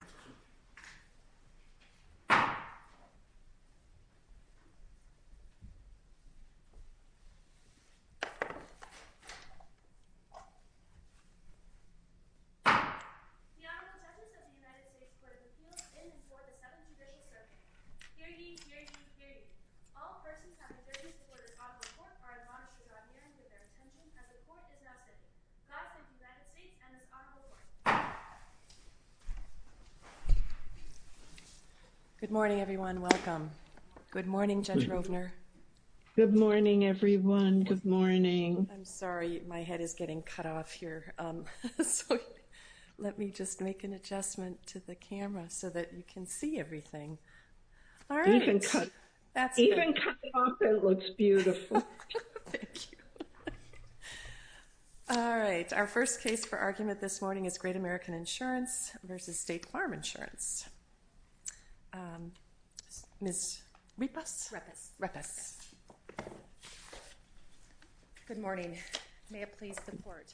The Honorable Justice of the United States Court of Appeals in and for the Seventh Judicial Circuit. Hear ye, hear ye, hear ye. All persons on the 30th quarter's Honorable Court are admonished to draw near and give their attention as the Court is now sitting. Good morning, everyone. Welcome. Good morning, Judge Rovner. Good morning, everyone. Good morning. I'm sorry. My head is getting cut off here. Let me just make an adjustment to the camera so that you can see everything. Even cut off, it looks beautiful. All right. Our first case for argument this morning is Great American Insurance v. State Farm Insurance. Ms. Repas. Good morning. May it please the Court.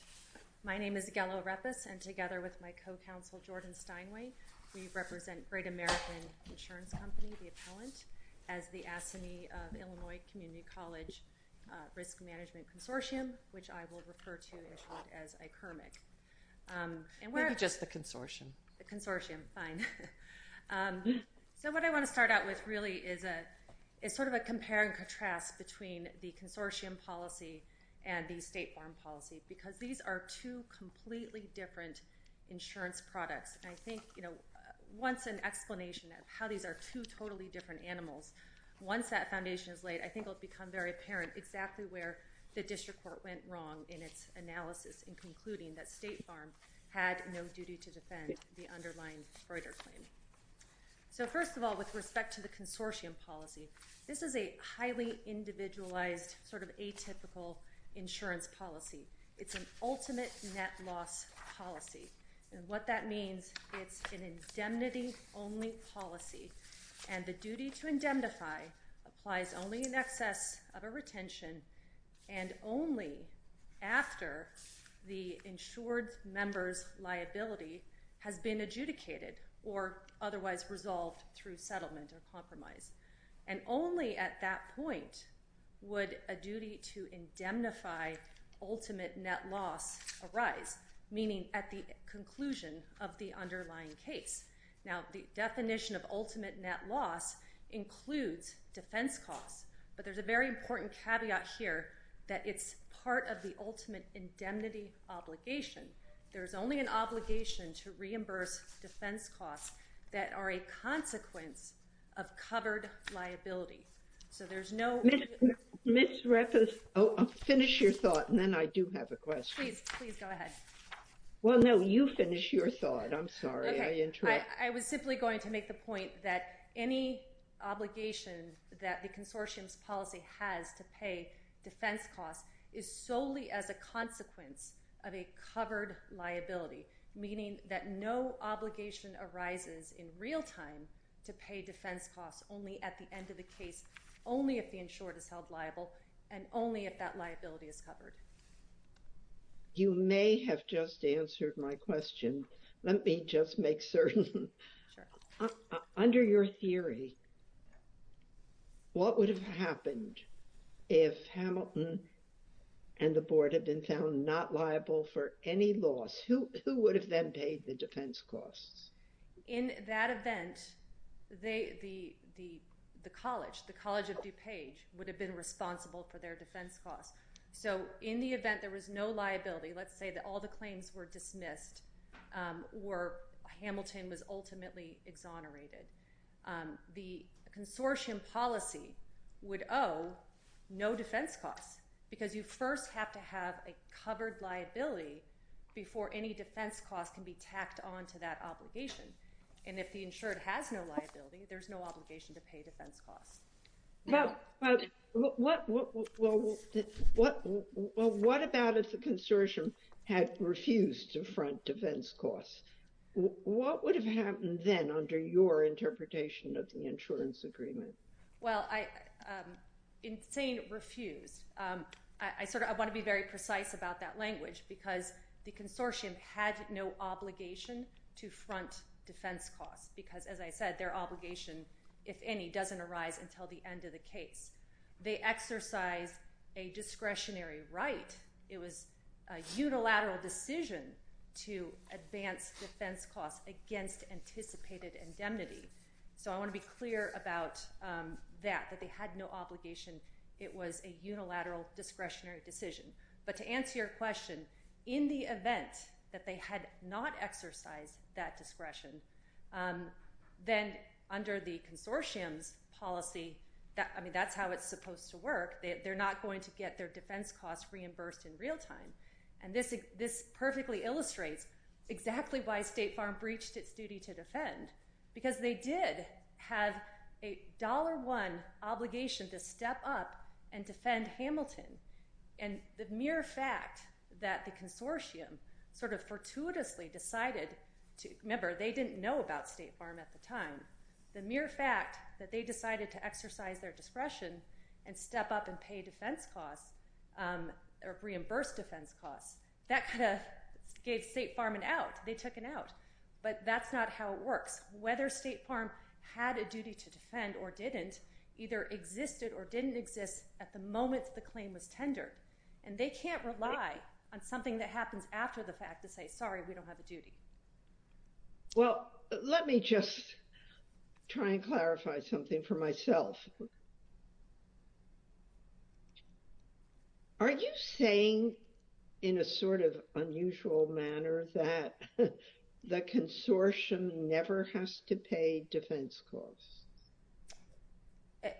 My name is Gela Repas, and together with my co-counsel, Jordan Steinway, we represent Great American Insurance Company, the appellant, as the ASCME of Illinois Community College Risk Management Consortium, which I will refer to as ICRMIC. Maybe just the consortium. The consortium. Fine. So what I want to start out with really is sort of a compare and contrast between the consortium policy and the state farm policy, because these are two completely different insurance products. And I think, you know, once an explanation of how these are two totally different animals, once that foundation is laid, I think it will become very apparent exactly where the district court went wrong in its analysis in concluding that state farm had no duty to defend the underlying Freuder claim. So, first of all, with respect to the consortium policy, this is a highly individualized sort of atypical insurance policy. It's an ultimate net loss policy, and what that means, it's an indemnity-only policy, and the duty to indemnify applies only in excess of a retention and only after the insured member's liability has been adjudicated or otherwise resolved through settlement or compromise. And only at that point would a duty to indemnify ultimate net loss arise, meaning at the conclusion of the underlying case. Now, the definition of ultimate net loss includes defense costs, but there's a very important caveat here that it's part of the ultimate indemnity obligation. There's only an obligation to reimburse defense costs that are a consequence of covered liability. So there's no— Ms. Reffis, finish your thought, and then I do have a question. Please, please, go ahead. Well, no, you finish your thought. I'm sorry. I was simply going to make the point that any obligation that the consortium's policy has to pay defense costs is solely as a consequence of a covered liability, meaning that no obligation arises in real time to pay defense costs only at the end of the case, only if the insured is held liable, and only if that liability is covered. You may have just answered my question. Let me just make certain. Sure. Under your theory, what would have happened if Hamilton and the board had been found not liable for any loss? Who would have then paid the defense costs? In that event, the college, the College of DuPage, would have been responsible for their defense costs. So in the event there was no liability, let's say that all the claims were dismissed or Hamilton was ultimately exonerated, the consortium policy would owe no defense costs because you first have to have a covered liability before any defense costs can be tacked on to that obligation. And if the insured has no liability, there's no obligation to pay defense costs. Well, what about if the consortium had refused to front defense costs? What would have happened then under your interpretation of the insurance agreement? Well, in saying refused, I want to be very precise about that language because the consortium had no obligation to front defense costs because, as I said, their obligation, if any, doesn't arise until the end of the case. They exercise a discretionary right. It was a unilateral decision to advance defense costs against anticipated indemnity. So I want to be clear about that, that they had no obligation. It was a unilateral discretionary decision. But to answer your question, in the event that they had not exercised that discretion, then under the consortium's policy, I mean, that's how it's supposed to work. They're not going to get their defense costs reimbursed in real time. And this perfectly illustrates exactly why State Farm breached its duty to defend because they did have a $1 obligation to step up and defend Hamilton. And the mere fact that the consortium sort of fortuitously decided to – remember, they didn't know about State Farm at the time. The mere fact that they decided to exercise their discretion and step up and pay defense costs or reimburse defense costs, that kind of gave State Farm an out. They took an out. Whether State Farm had a duty to defend or didn't either existed or didn't exist at the moment the claim was tendered. And they can't rely on something that happens after the fact to say, sorry, we don't have a duty. Well, let me just try and clarify something for myself. Are you saying in a sort of unusual manner that the consortium never has to pay defense costs?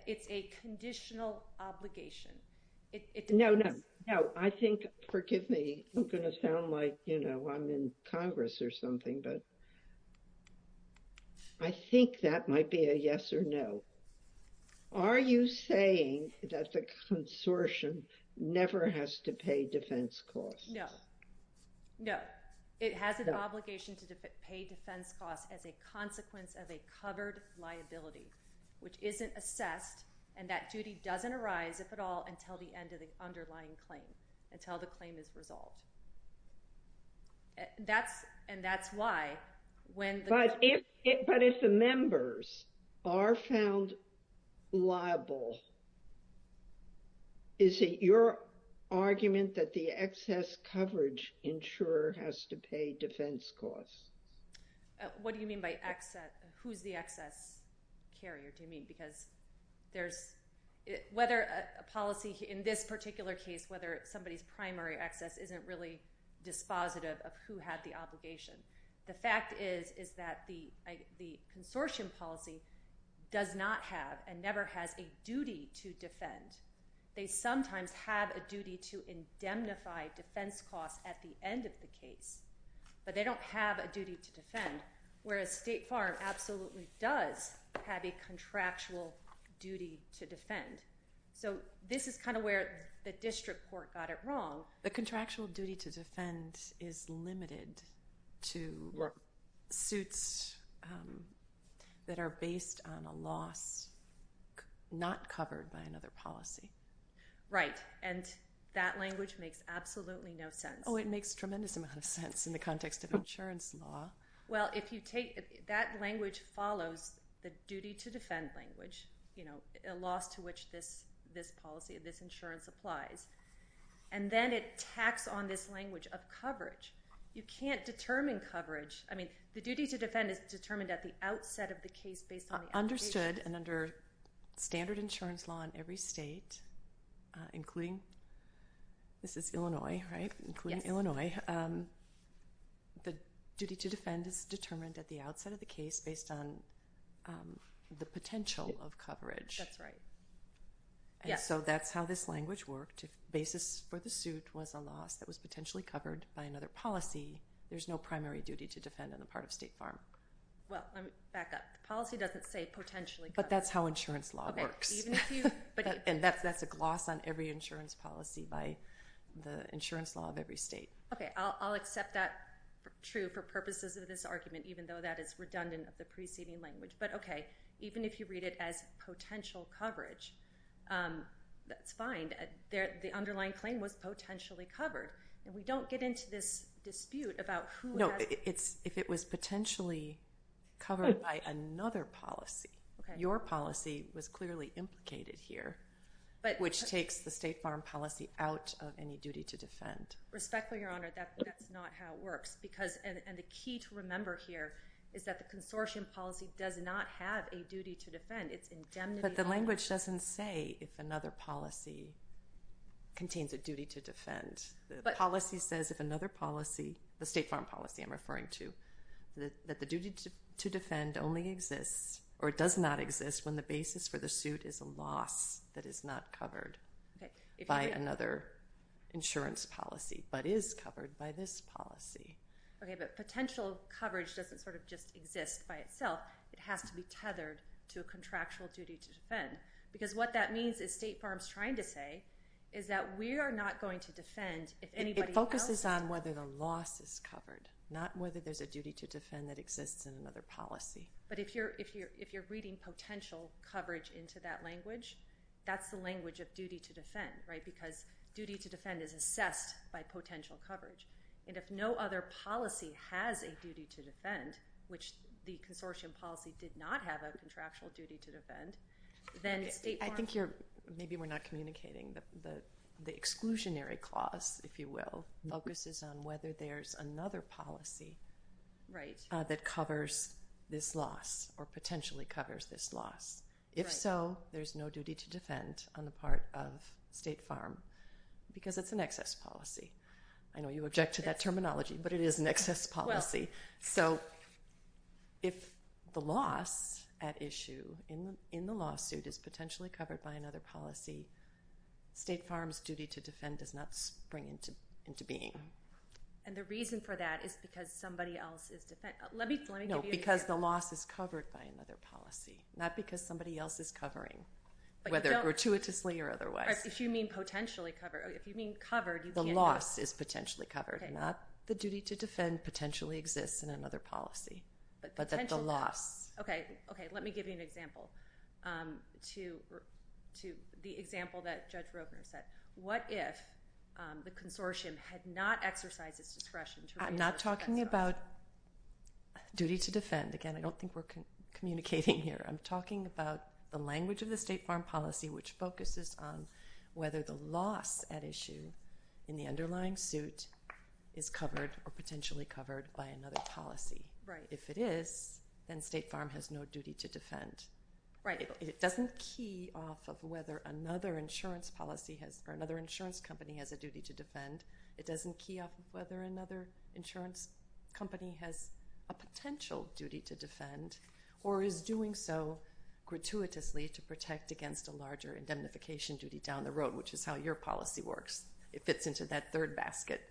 It's a conditional obligation. No, no, no. I think – forgive me. I'm going to sound like, you know, I'm in Congress or something, but I think that might be a yes or no. Are you saying that the consortium never has to pay defense costs? No. No. It has an obligation to pay defense costs as a consequence of a covered liability, which isn't assessed. And that duty doesn't arise, if at all, until the end of the underlying claim, until the claim is resolved. And that's why when the – But if the members are found liable, is it your argument that the excess coverage insurer has to pay defense costs? What do you mean by – who's the excess carrier, do you mean? Because there's – whether a policy – in this particular case, whether somebody's primary excess isn't really dispositive of who had the obligation. The fact is is that the consortium policy does not have and never has a duty to defend. They sometimes have a duty to indemnify defense costs at the end of the case, but they don't have a duty to defend, whereas State Farm absolutely does have a contractual duty to defend. So this is kind of where the district court got it wrong. The contractual duty to defend is limited to suits that are based on a loss not covered by another policy. Right, and that language makes absolutely no sense. Oh, it makes a tremendous amount of sense in the context of insurance law. Well, if you take – that language follows the duty to defend language, a loss to which this policy, this insurance applies. And then it tacks on this language of coverage. You can't determine coverage. I mean, the duty to defend is determined at the outset of the case based on the application. Understood, and under standard insurance law in every state, including – this is Illinois, right? Yes. Including Illinois. Okay. The duty to defend is determined at the outset of the case based on the potential of coverage. That's right. And so that's how this language worked. If the basis for the suit was a loss that was potentially covered by another policy, there's no primary duty to defend on the part of State Farm. Well, back up. The policy doesn't say potentially covered. But that's how insurance law works. And that's a gloss on every insurance policy by the insurance law of every state. Okay, I'll accept that true for purposes of this argument, even though that is redundant of the preceding language. But, okay, even if you read it as potential coverage, that's fine. The underlying claim was potentially covered. And we don't get into this dispute about who has – No, it's if it was potentially covered by another policy. Okay. Your policy was clearly implicated here, which takes the State Farm policy out of any duty to defend. Respectfully, Your Honor, that's not how it works. And the key to remember here is that the consortium policy does not have a duty to defend. But the language doesn't say if another policy contains a duty to defend. The policy says if another policy, the State Farm policy I'm referring to, that the duty to defend only exists or does not exist when the basis for the suit is a loss that is not covered by another insurance policy, but is covered by this policy. Okay, but potential coverage doesn't sort of just exist by itself. It has to be tethered to a contractual duty to defend. Because what that means is State Farm's trying to say is that we are not going to defend if anybody else – But if you're reading potential coverage into that language, that's the language of duty to defend, right? Because duty to defend is assessed by potential coverage. And if no other policy has a duty to defend, which the consortium policy did not have a contractual duty to defend, then State Farm – I think you're – maybe we're not communicating. The exclusionary clause, if you will, focuses on whether there's another policy that covers this loss or potentially covers this loss. If so, there's no duty to defend on the part of State Farm because it's an excess policy. I know you object to that terminology, but it is an excess policy. So if the loss at issue in the lawsuit is potentially covered by another policy, State Farm's duty to defend does not spring into being. And the reason for that is because somebody else is – let me give you an example. No, because the loss is covered by another policy, not because somebody else is covering, whether gratuitously or otherwise. If you mean potentially covered – if you mean covered, you can't – The loss is potentially covered. Not the duty to defend potentially exists in another policy, but that the loss – Okay. Okay. Let me give you an example to – the example that Judge Rogner said. What if the consortium had not exercised its discretion to – I'm not talking about duty to defend. Again, I don't think we're communicating here. I'm talking about the language of the State Farm policy, which focuses on whether the loss at issue in the underlying suit is covered or potentially covered by another policy. Right. If it is, then State Farm has no duty to defend. Right. It doesn't key off of whether another insurance policy has – or another insurance company has a duty to defend. It doesn't key off of whether another insurance company has a potential duty to defend or is doing so gratuitously to protect against a larger indemnification duty down the road, which is how your policy works. It fits into that third basket.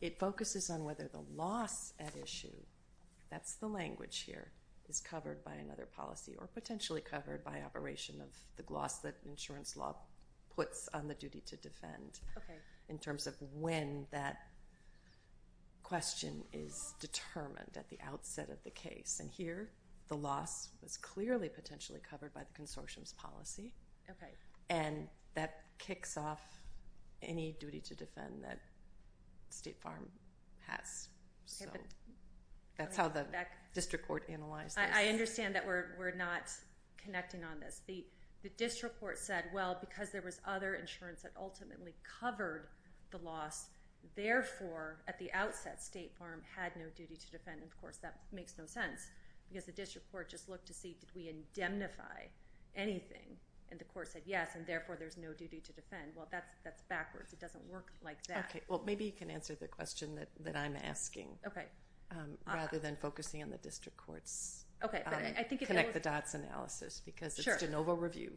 It focuses on whether the loss at issue – that's the language here – is covered by another policy or potentially covered by operation of the gloss that insurance law puts on the duty to defend. Okay. In terms of when that question is determined at the outset of the case. And here, the loss was clearly potentially covered by the consortium's policy. Okay. And that kicks off any duty to defend that State Farm has. So that's how the district court analyzed this. I understand that we're not connecting on this. The district court said, well, because there was other insurance that ultimately covered the loss, therefore, at the outset, State Farm had no duty to defend. And, of course, that makes no sense because the district court just looked to see did we indemnify anything. And the court said, yes, and therefore, there's no duty to defend. Well, that's backwards. It doesn't work like that. Okay. Well, maybe you can answer the question that I'm asking rather than focusing on the district court's connect-the-dots analysis because it's de novo review.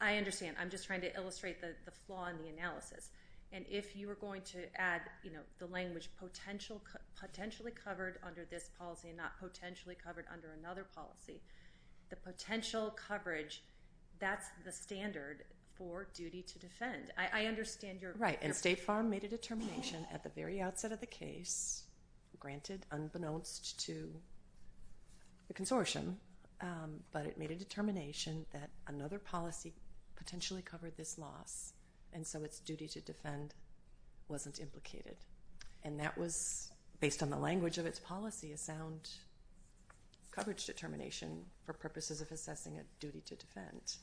I understand. I'm just trying to illustrate the flaw in the analysis. And if you were going to add, you know, the language potentially covered under this policy and not potentially covered under another policy, the potential coverage, that's the standard for duty to defend. I understand your question. Right. And State Farm made a determination at the very outset of the case, granted unbeknownst to the consortium, but it made a determination that another policy potentially covered this loss, and so its duty to defend wasn't implicated. And that was, based on the language of its policy, a sound coverage determination for purposes of assessing a duty to defend.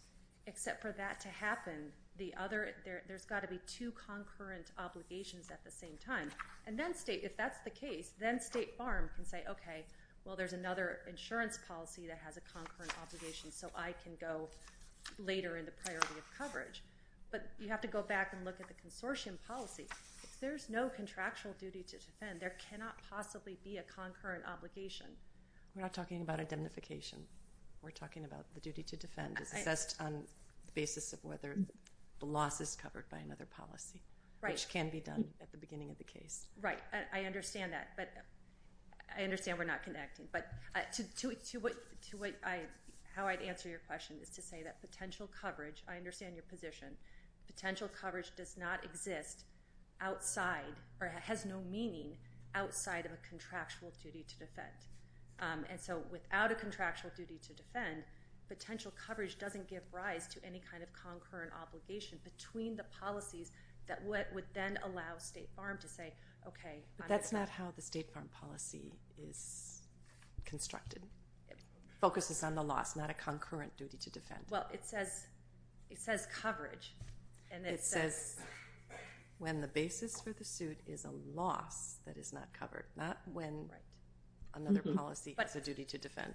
Except for that to happen, there's got to be two concurrent obligations at the same time. And then State, if that's the case, then State Farm can say, okay, well, there's another insurance policy that has a concurrent obligation, so I can go later in the priority of coverage. But you have to go back and look at the consortium policy. If there's no contractual duty to defend, there cannot possibly be a concurrent obligation. We're not talking about identification. We're talking about the duty to defend is assessed on the basis of whether the loss is covered by another policy, which can be done at the beginning of the case. Right. I understand that, but I understand we're not connecting. But to how I'd answer your question is to say that potential coverage, I understand your position. Potential coverage does not exist outside or has no meaning outside of a contractual duty to defend. And so without a contractual duty to defend, potential coverage doesn't give rise to any kind of concurrent obligation between the policies that would then allow State Farm to say, okay. But that's not how the State Farm policy is constructed. It focuses on the loss, not a concurrent duty to defend. Well, it says coverage. It says when the basis for the suit is a loss that is not covered, not when another policy has a duty to defend,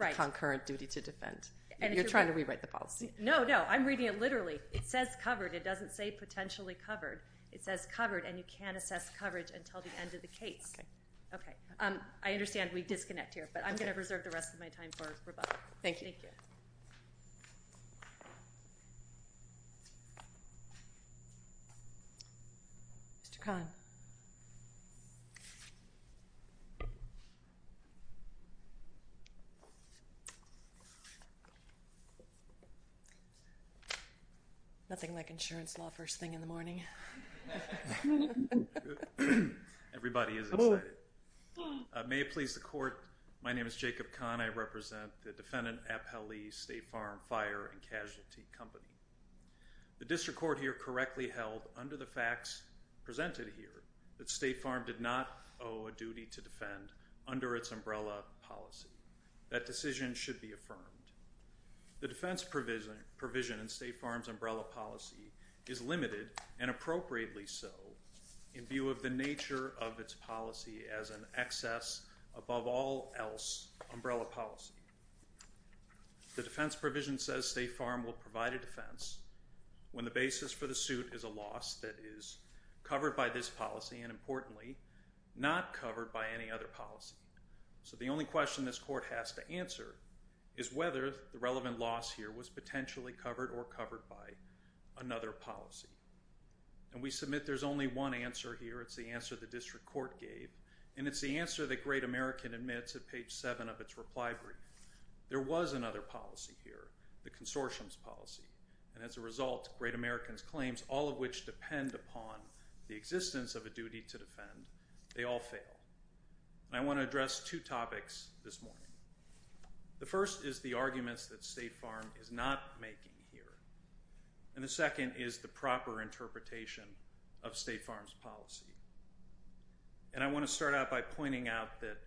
a concurrent duty to defend. You're trying to rewrite the policy. No, no. I'm reading it literally. It says covered. It doesn't say potentially covered. It says covered, and you can't assess coverage until the end of the case. Okay. I understand we disconnect here, but I'm going to reserve the rest of my time for rebuttal. Thank you. Thank you. Mr. Kahn. Nothing like insurance law first thing in the morning. Everybody is excited. May it please the court, my name is Jacob Kahn. I represent the Defendant Appellee State Farm Fire and Casualty Company. The district court here correctly held under the facts presented here that State Farm did not owe a duty to defend under its umbrella policy. That decision should be affirmed. The defense provision in State Farm's umbrella policy is limited, and appropriately so, in view of the nature of its policy as an excess above all else umbrella policy. The defense provision says State Farm will provide a defense when the basis for the suit is a loss that is covered by this policy and, importantly, not covered by any other policy. So the only question this court has to answer is whether the relevant loss here was potentially covered or covered by another policy. And we submit there's only one answer here. It's the answer the district court gave, and it's the answer that Great American admits at page 7 of its reply brief. There was another policy here, the consortium's policy, and as a result, Great American's claims, all of which depend upon the existence of a duty to defend, they all fail. I want to address two topics this morning. The first is the arguments that State Farm is not making here, and the second is the proper interpretation of State Farm's policy. And I want to start out by pointing out that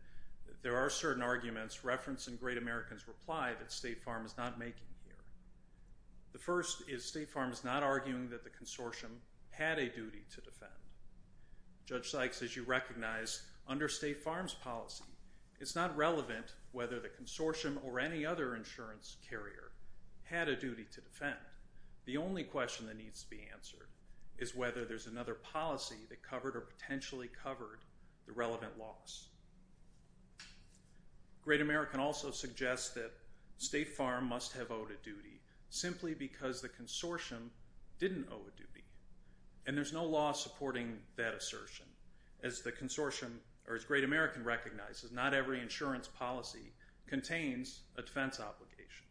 there are certain arguments referenced in Great American's reply that State Farm is not making here. The first is State Farm is not arguing that the consortium had a duty to defend. Judge Sykes, as you recognize, under State Farm's policy, it's not relevant whether the consortium or any other insurance carrier had a duty to defend. The only question that needs to be answered is whether there's another policy that covered or potentially covered the relevant loss. Great American also suggests that State Farm must have owed a duty simply because the consortium didn't owe a duty. And there's no law supporting that assertion. As the consortium, or as Great American recognizes, not every insurance policy contains a defense obligation.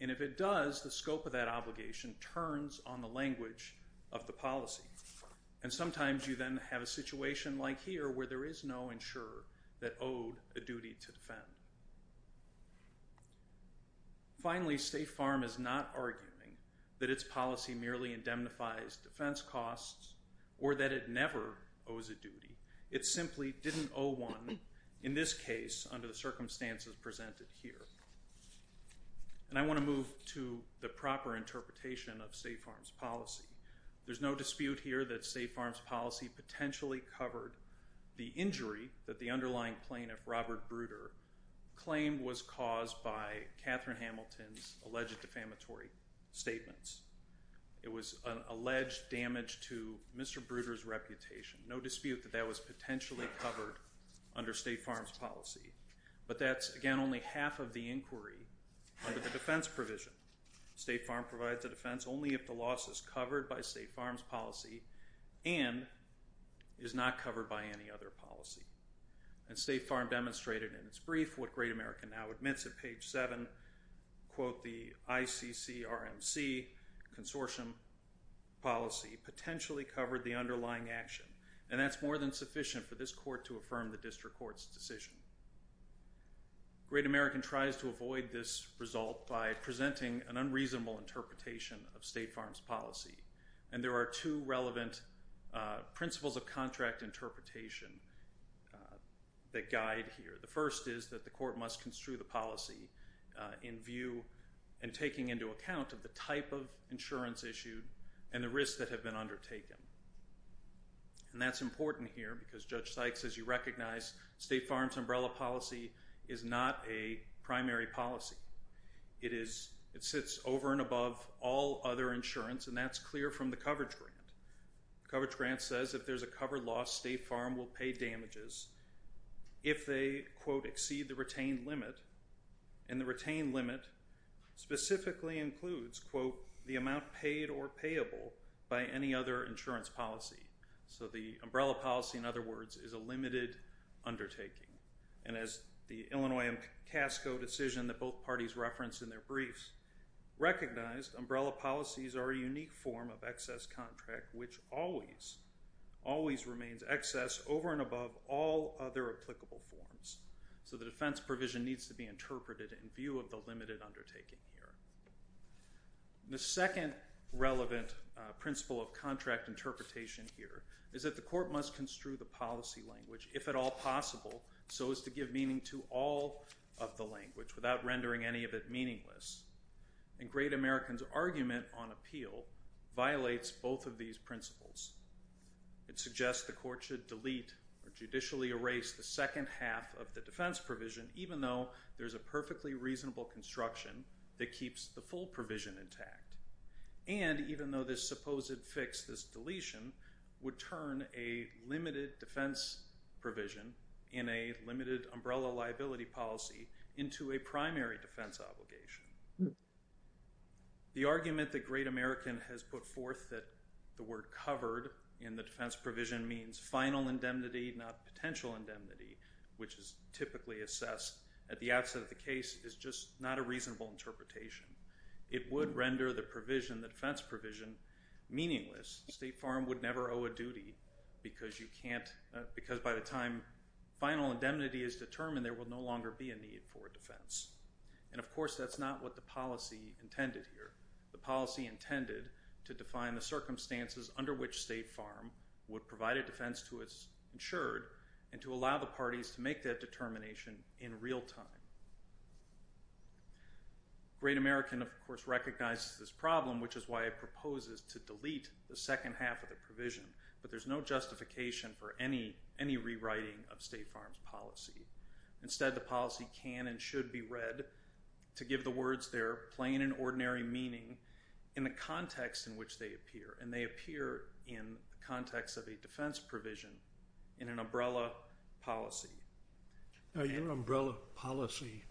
And if it does, the scope of that obligation turns on the language of the policy. And sometimes you then have a situation like here where there is no insurer that owed a duty to defend. Finally, State Farm is not arguing that its policy merely indemnifies defense costs or that it never owes a duty. It simply didn't owe one, in this case, under the circumstances presented here. And I want to move to the proper interpretation of State Farm's policy. There's no dispute here that State Farm's policy potentially covered the injury that the underlying plaintiff, Robert Bruder, claimed was caused by Katherine Hamilton's alleged defamatory statements. It was an alleged damage to Mr. Bruder's reputation. No dispute that that was potentially covered under State Farm's policy. But that's, again, only half of the inquiry under the defense provision. State Farm provides a defense only if the loss is covered by State Farm's policy and is not covered by any other policy. And State Farm demonstrated in its brief what Great American now admits at page 7, quote, the ICCRMC consortium policy potentially covered the underlying action. And that's more than sufficient for this court to affirm the district court's decision. Great American tries to avoid this result by presenting an unreasonable interpretation of State Farm's policy. And there are two relevant principles of contract interpretation that guide here. The first is that the court must construe the policy in view and taking into account of the type of insurance issued and the risks that have been undertaken. And that's important here because Judge Sykes, as you recognize, State Farm's umbrella policy is not a primary policy. It sits over and above all other insurance, and that's clear from the coverage grant. The coverage grant says if there's a cover loss, State Farm will pay damages if they, quote, exceed the retained limit. And the retained limit specifically includes, quote, the amount paid or payable by any other insurance policy. So the umbrella policy, in other words, is a limited undertaking. And as the Illinois and CASCO decision that both parties referenced in their briefs recognized, umbrella policies are a unique form of excess contract which always, always remains excess over and above all other applicable forms. So the defense provision needs to be interpreted in view of the limited undertaking here. The second relevant principle of contract interpretation here is that the court must construe the policy language, if at all possible, so as to give meaning to all of the language without rendering any of it meaningless. And Great American's argument on appeal violates both of these principles. It suggests the court should delete or judicially erase the second half of the defense provision, even though there's a perfectly reasonable construction that keeps the full provision intact, and even though this supposed fix, this deletion, would turn a limited defense provision in a limited umbrella liability policy into a primary defense obligation. The argument that Great American has put forth that the word covered in the defense provision means final indemnity, not potential indemnity, which is typically assessed at the outset of the case, is just not a reasonable interpretation. It would render the provision, the defense provision, meaningless. State Farm would never owe a duty because you can't, because by the time final indemnity is determined, And of course that's not what the policy intended here. The policy intended to define the circumstances under which State Farm would provide a defense to its insured and to allow the parties to make that determination in real time. Great American, of course, recognizes this problem, which is why it proposes to delete the second half of the provision, but there's no justification for any rewriting of State Farm's policy. Instead, the policy can and should be read to give the words their plain and ordinary meaning in the context in which they appear, and they appear in the context of a defense provision in an umbrella policy. Your umbrella policy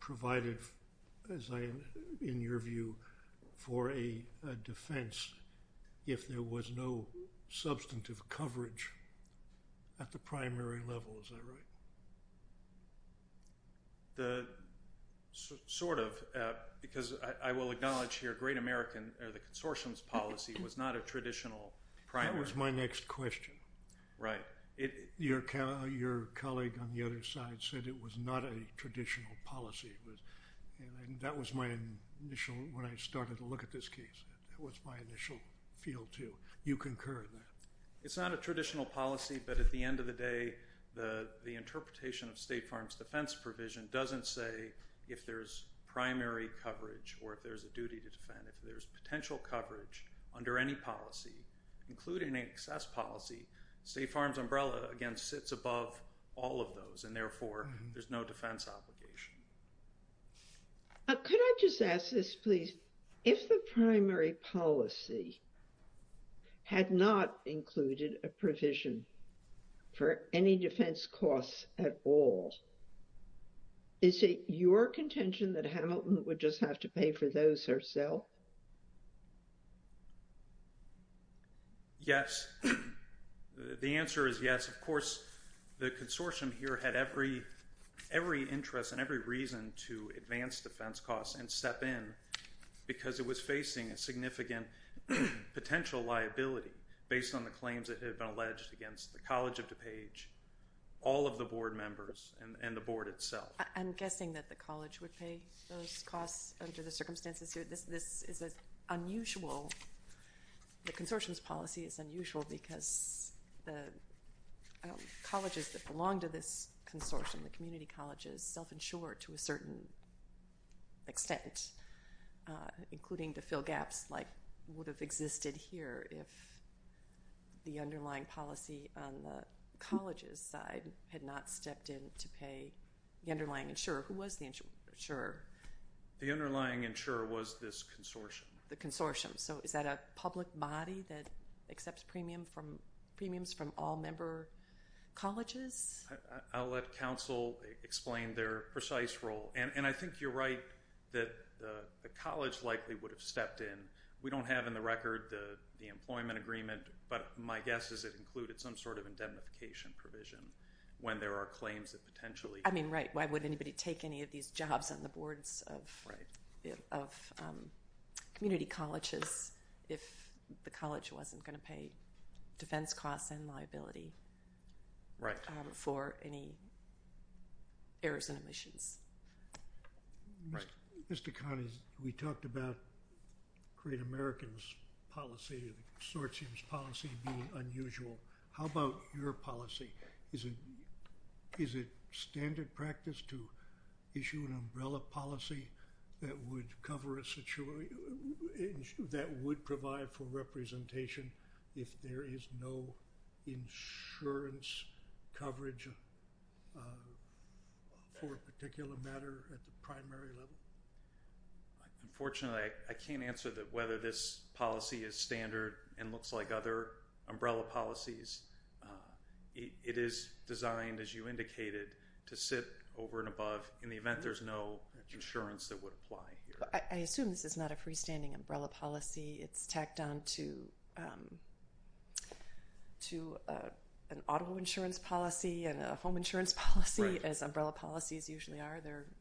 provided, in your view, for a defense if there was no substantive coverage at the primary level. Is that right? Sort of, because I will acknowledge here Great American, the consortium's policy, was not a traditional primary. That was my next question. Right. Your colleague on the other side said it was not a traditional policy, and that was my initial, when I started to look at this case, that was my initial feel, too. You concur in that. It's not a traditional policy, but at the end of the day, the interpretation of State Farm's defense provision doesn't say if there's primary coverage or if there's a duty to defend. If there's potential coverage under any policy, including an excess policy, State Farm's umbrella, again, sits above all of those, and therefore, there's no defense obligation. Could I just ask this, please? If the primary policy had not included a provision for any defense costs at all, is it your contention that Hamilton would just have to pay for those herself? Yes. The answer is yes. Of course, the consortium here had every interest and every reason to advance defense costs and step in because it was facing a significant potential liability based on the claims that had been alleged against the College of DuPage, all of the board members, and the board itself. I'm guessing that the college would pay those costs under the circumstances here. This is unusual. The consortium's policy is unusual because the colleges that belong to this consortium, the community colleges, self-insure to a certain extent, including to fill gaps like would have existed here if the underlying policy on the college's side had not stepped in to pay the underlying insurer. Who was the insurer? The underlying insurer was this consortium. The consortium. So is that a public body that accepts premiums from all member colleges? I'll let counsel explain their precise role. I think you're right that the college likely would have stepped in. We don't have in the record the employment agreement, but my guess is it included some sort of indemnification provision when there are claims that potentially. I mean, right. Why would anybody take any of these jobs on the boards of community colleges if the college wasn't going to pay defense costs and liability. Right. For any errors and omissions. Right. Mr. Connie, we talked about Great American's policy, the consortium's policy being unusual. How about your policy? Is it standard practice to issue an umbrella policy that would cover a situation, that would provide for representation if there is no insurance coverage for a particular matter at the primary level? Unfortunately, I can't answer whether this policy is standard and looks like other umbrella policies. It is designed, as you indicated, to sit over and above in the event there's no insurance that would apply here. I assume this is not a freestanding umbrella policy. It's tacked on to an auto insurance policy and a home insurance policy, as umbrella policies usually are.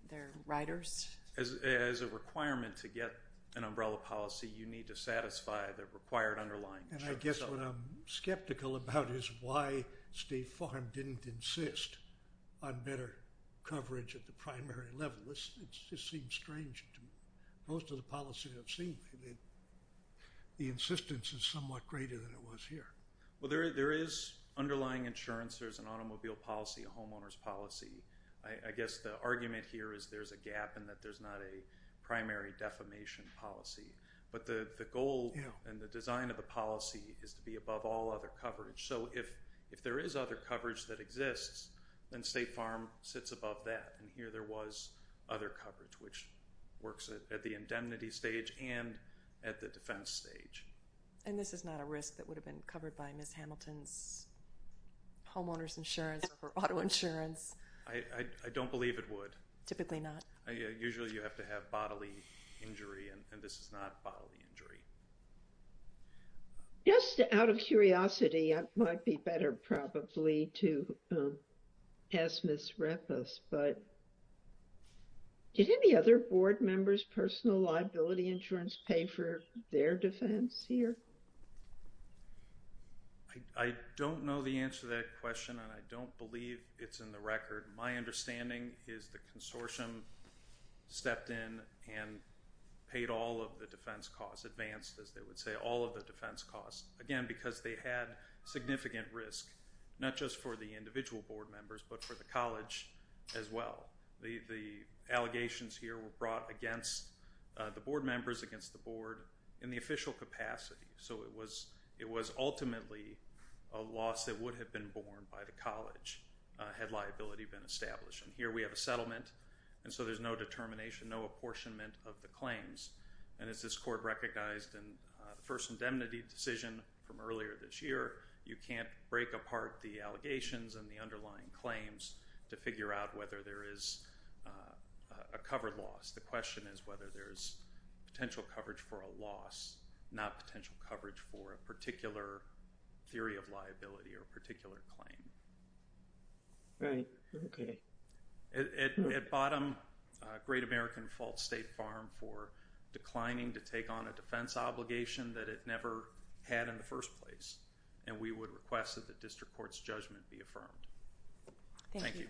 They're riders. As a requirement to get an umbrella policy, you need to satisfy the required underlying insurance. And I guess what I'm skeptical about is why State Farm didn't insist on better coverage at the primary level. It just seems strange to me. Most of the policies I've seen, the insistence is somewhat greater than it was here. Well, there is underlying insurance. There's an automobile policy, a homeowner's policy. I guess the argument here is there's a gap and that there's not a primary defamation policy. But the goal and the design of the policy is to be above all other coverage. So if there is other coverage that exists, then State Farm sits above that. And here there was other coverage, which works at the indemnity stage and at the defense stage. And this is not a risk that would have been covered by Ms. Hamilton's homeowners insurance or auto insurance? I don't believe it would. Typically not. Usually you have to have bodily injury, and this is not bodily injury. Just out of curiosity, it might be better probably to ask Ms. Rappos, but did any other board members' personal liability insurance pay for their defense here? I don't know the answer to that question and I don't believe it's in the record. My understanding is the consortium stepped in and paid all of the defense costs, advanced, as they would say, all of the defense costs, again, because they had significant risk, not just for the individual board members, but for the college as well. The allegations here were brought against the board members, against the board in the official capacity. So it was ultimately a loss that would have been borne by the college had liability been established. And here we have a settlement, and so there's no determination, no apportionment of the claims. And as this court recognized in the first indemnity decision from earlier this year, you can't break apart the allegations and the underlying claims to figure out whether there is a covered loss. The question is whether there is potential coverage for a loss, not potential coverage for a particular theory of liability or particular claim. Right. Okay. At bottom, Great American Fault State Farm for declining to take on a defense obligation that it never had in the first place. And we would request that the district court's judgment be affirmed. Thank you.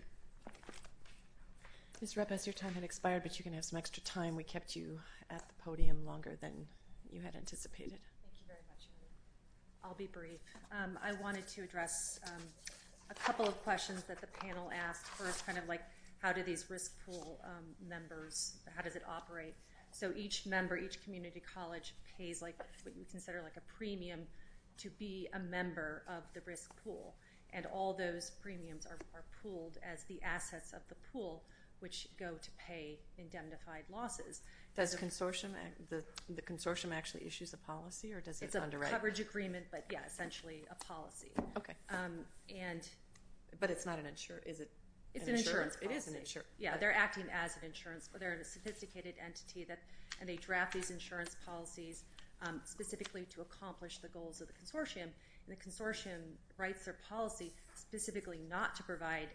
Ms. Repes, your time has expired, but you can have some extra time. We kept you at the podium longer than you had anticipated. Thank you very much. I'll be brief. I wanted to address a couple of questions that the panel asked first, kind of like how do these risk pool members, how does it operate? So each member, each community college pays like what you consider like a premium to be a member of the risk pool, and all those premiums are pooled as the assets of the pool, which go to pay indemnified losses. Does the consortium actually issues a policy, or does it underwrite? It's a coverage agreement, but, yeah, essentially a policy. Okay. But it's not an insurance policy. It's an insurance policy. It is an insurance policy. Yeah, they're acting as an insurance. They're a sophisticated entity, and they draft these insurance policies specifically to accomplish the goals of the consortium. And the consortium writes their policy specifically not to provide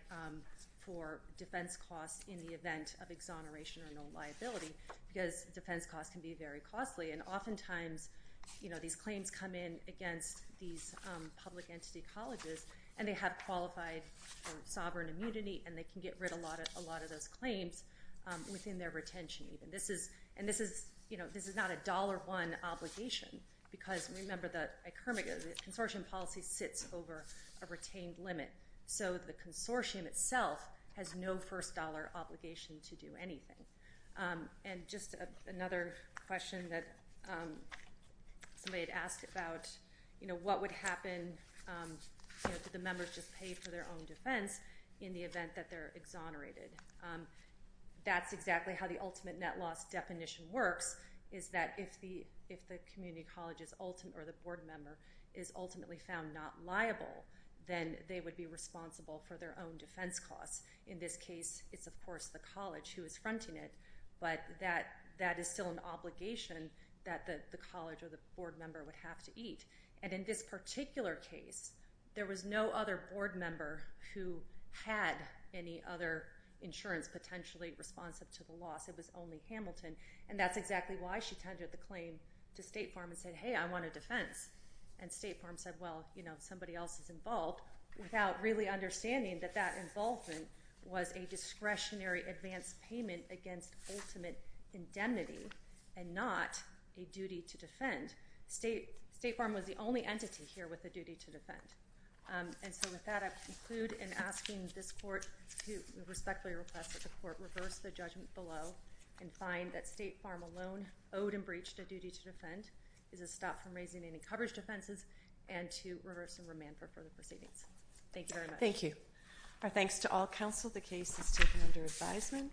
for defense costs in the event of exoneration or no liability, because defense costs can be very costly. And oftentimes, you know, these claims come in against these public entity colleges, and they have qualified sovereign immunity, and they can get rid of a lot of those claims within their retention even. And this is, you know, this is not a dollar one obligation because, remember, the consortium policy sits over a retained limit. So the consortium itself has no first dollar obligation to do anything. And just another question that somebody had asked about, you know, what would happen, you know, did the members just pay for their own defense in the event that they're exonerated? That's exactly how the ultimate net loss definition works is that if the community college or the board member is ultimately found not liable, then they would be responsible for their own defense costs. In this case, it's, of course, the college who is fronting it, but that is still an obligation that the college or the board member would have to eat. And in this particular case, there was no other board member who had any other insurance potentially responsive to the loss. It was only Hamilton. And that's exactly why she tendered the claim to State Farm and said, hey, I want a defense. And State Farm said, well, you know, somebody else is involved, without really understanding that that involvement was a discretionary advance payment against ultimate indemnity and not a duty to defend. State Farm was the only entity here with a duty to defend. And so with that, I conclude in asking this court to respectfully request that the court reverse the judgment below and find that State Farm alone owed and breached a duty to defend, is a stop from raising any coverage defenses, and to reverse and remand for further proceedings. Thank you very much. Thank you. Our thanks to all counsel. The case is taken under advisement.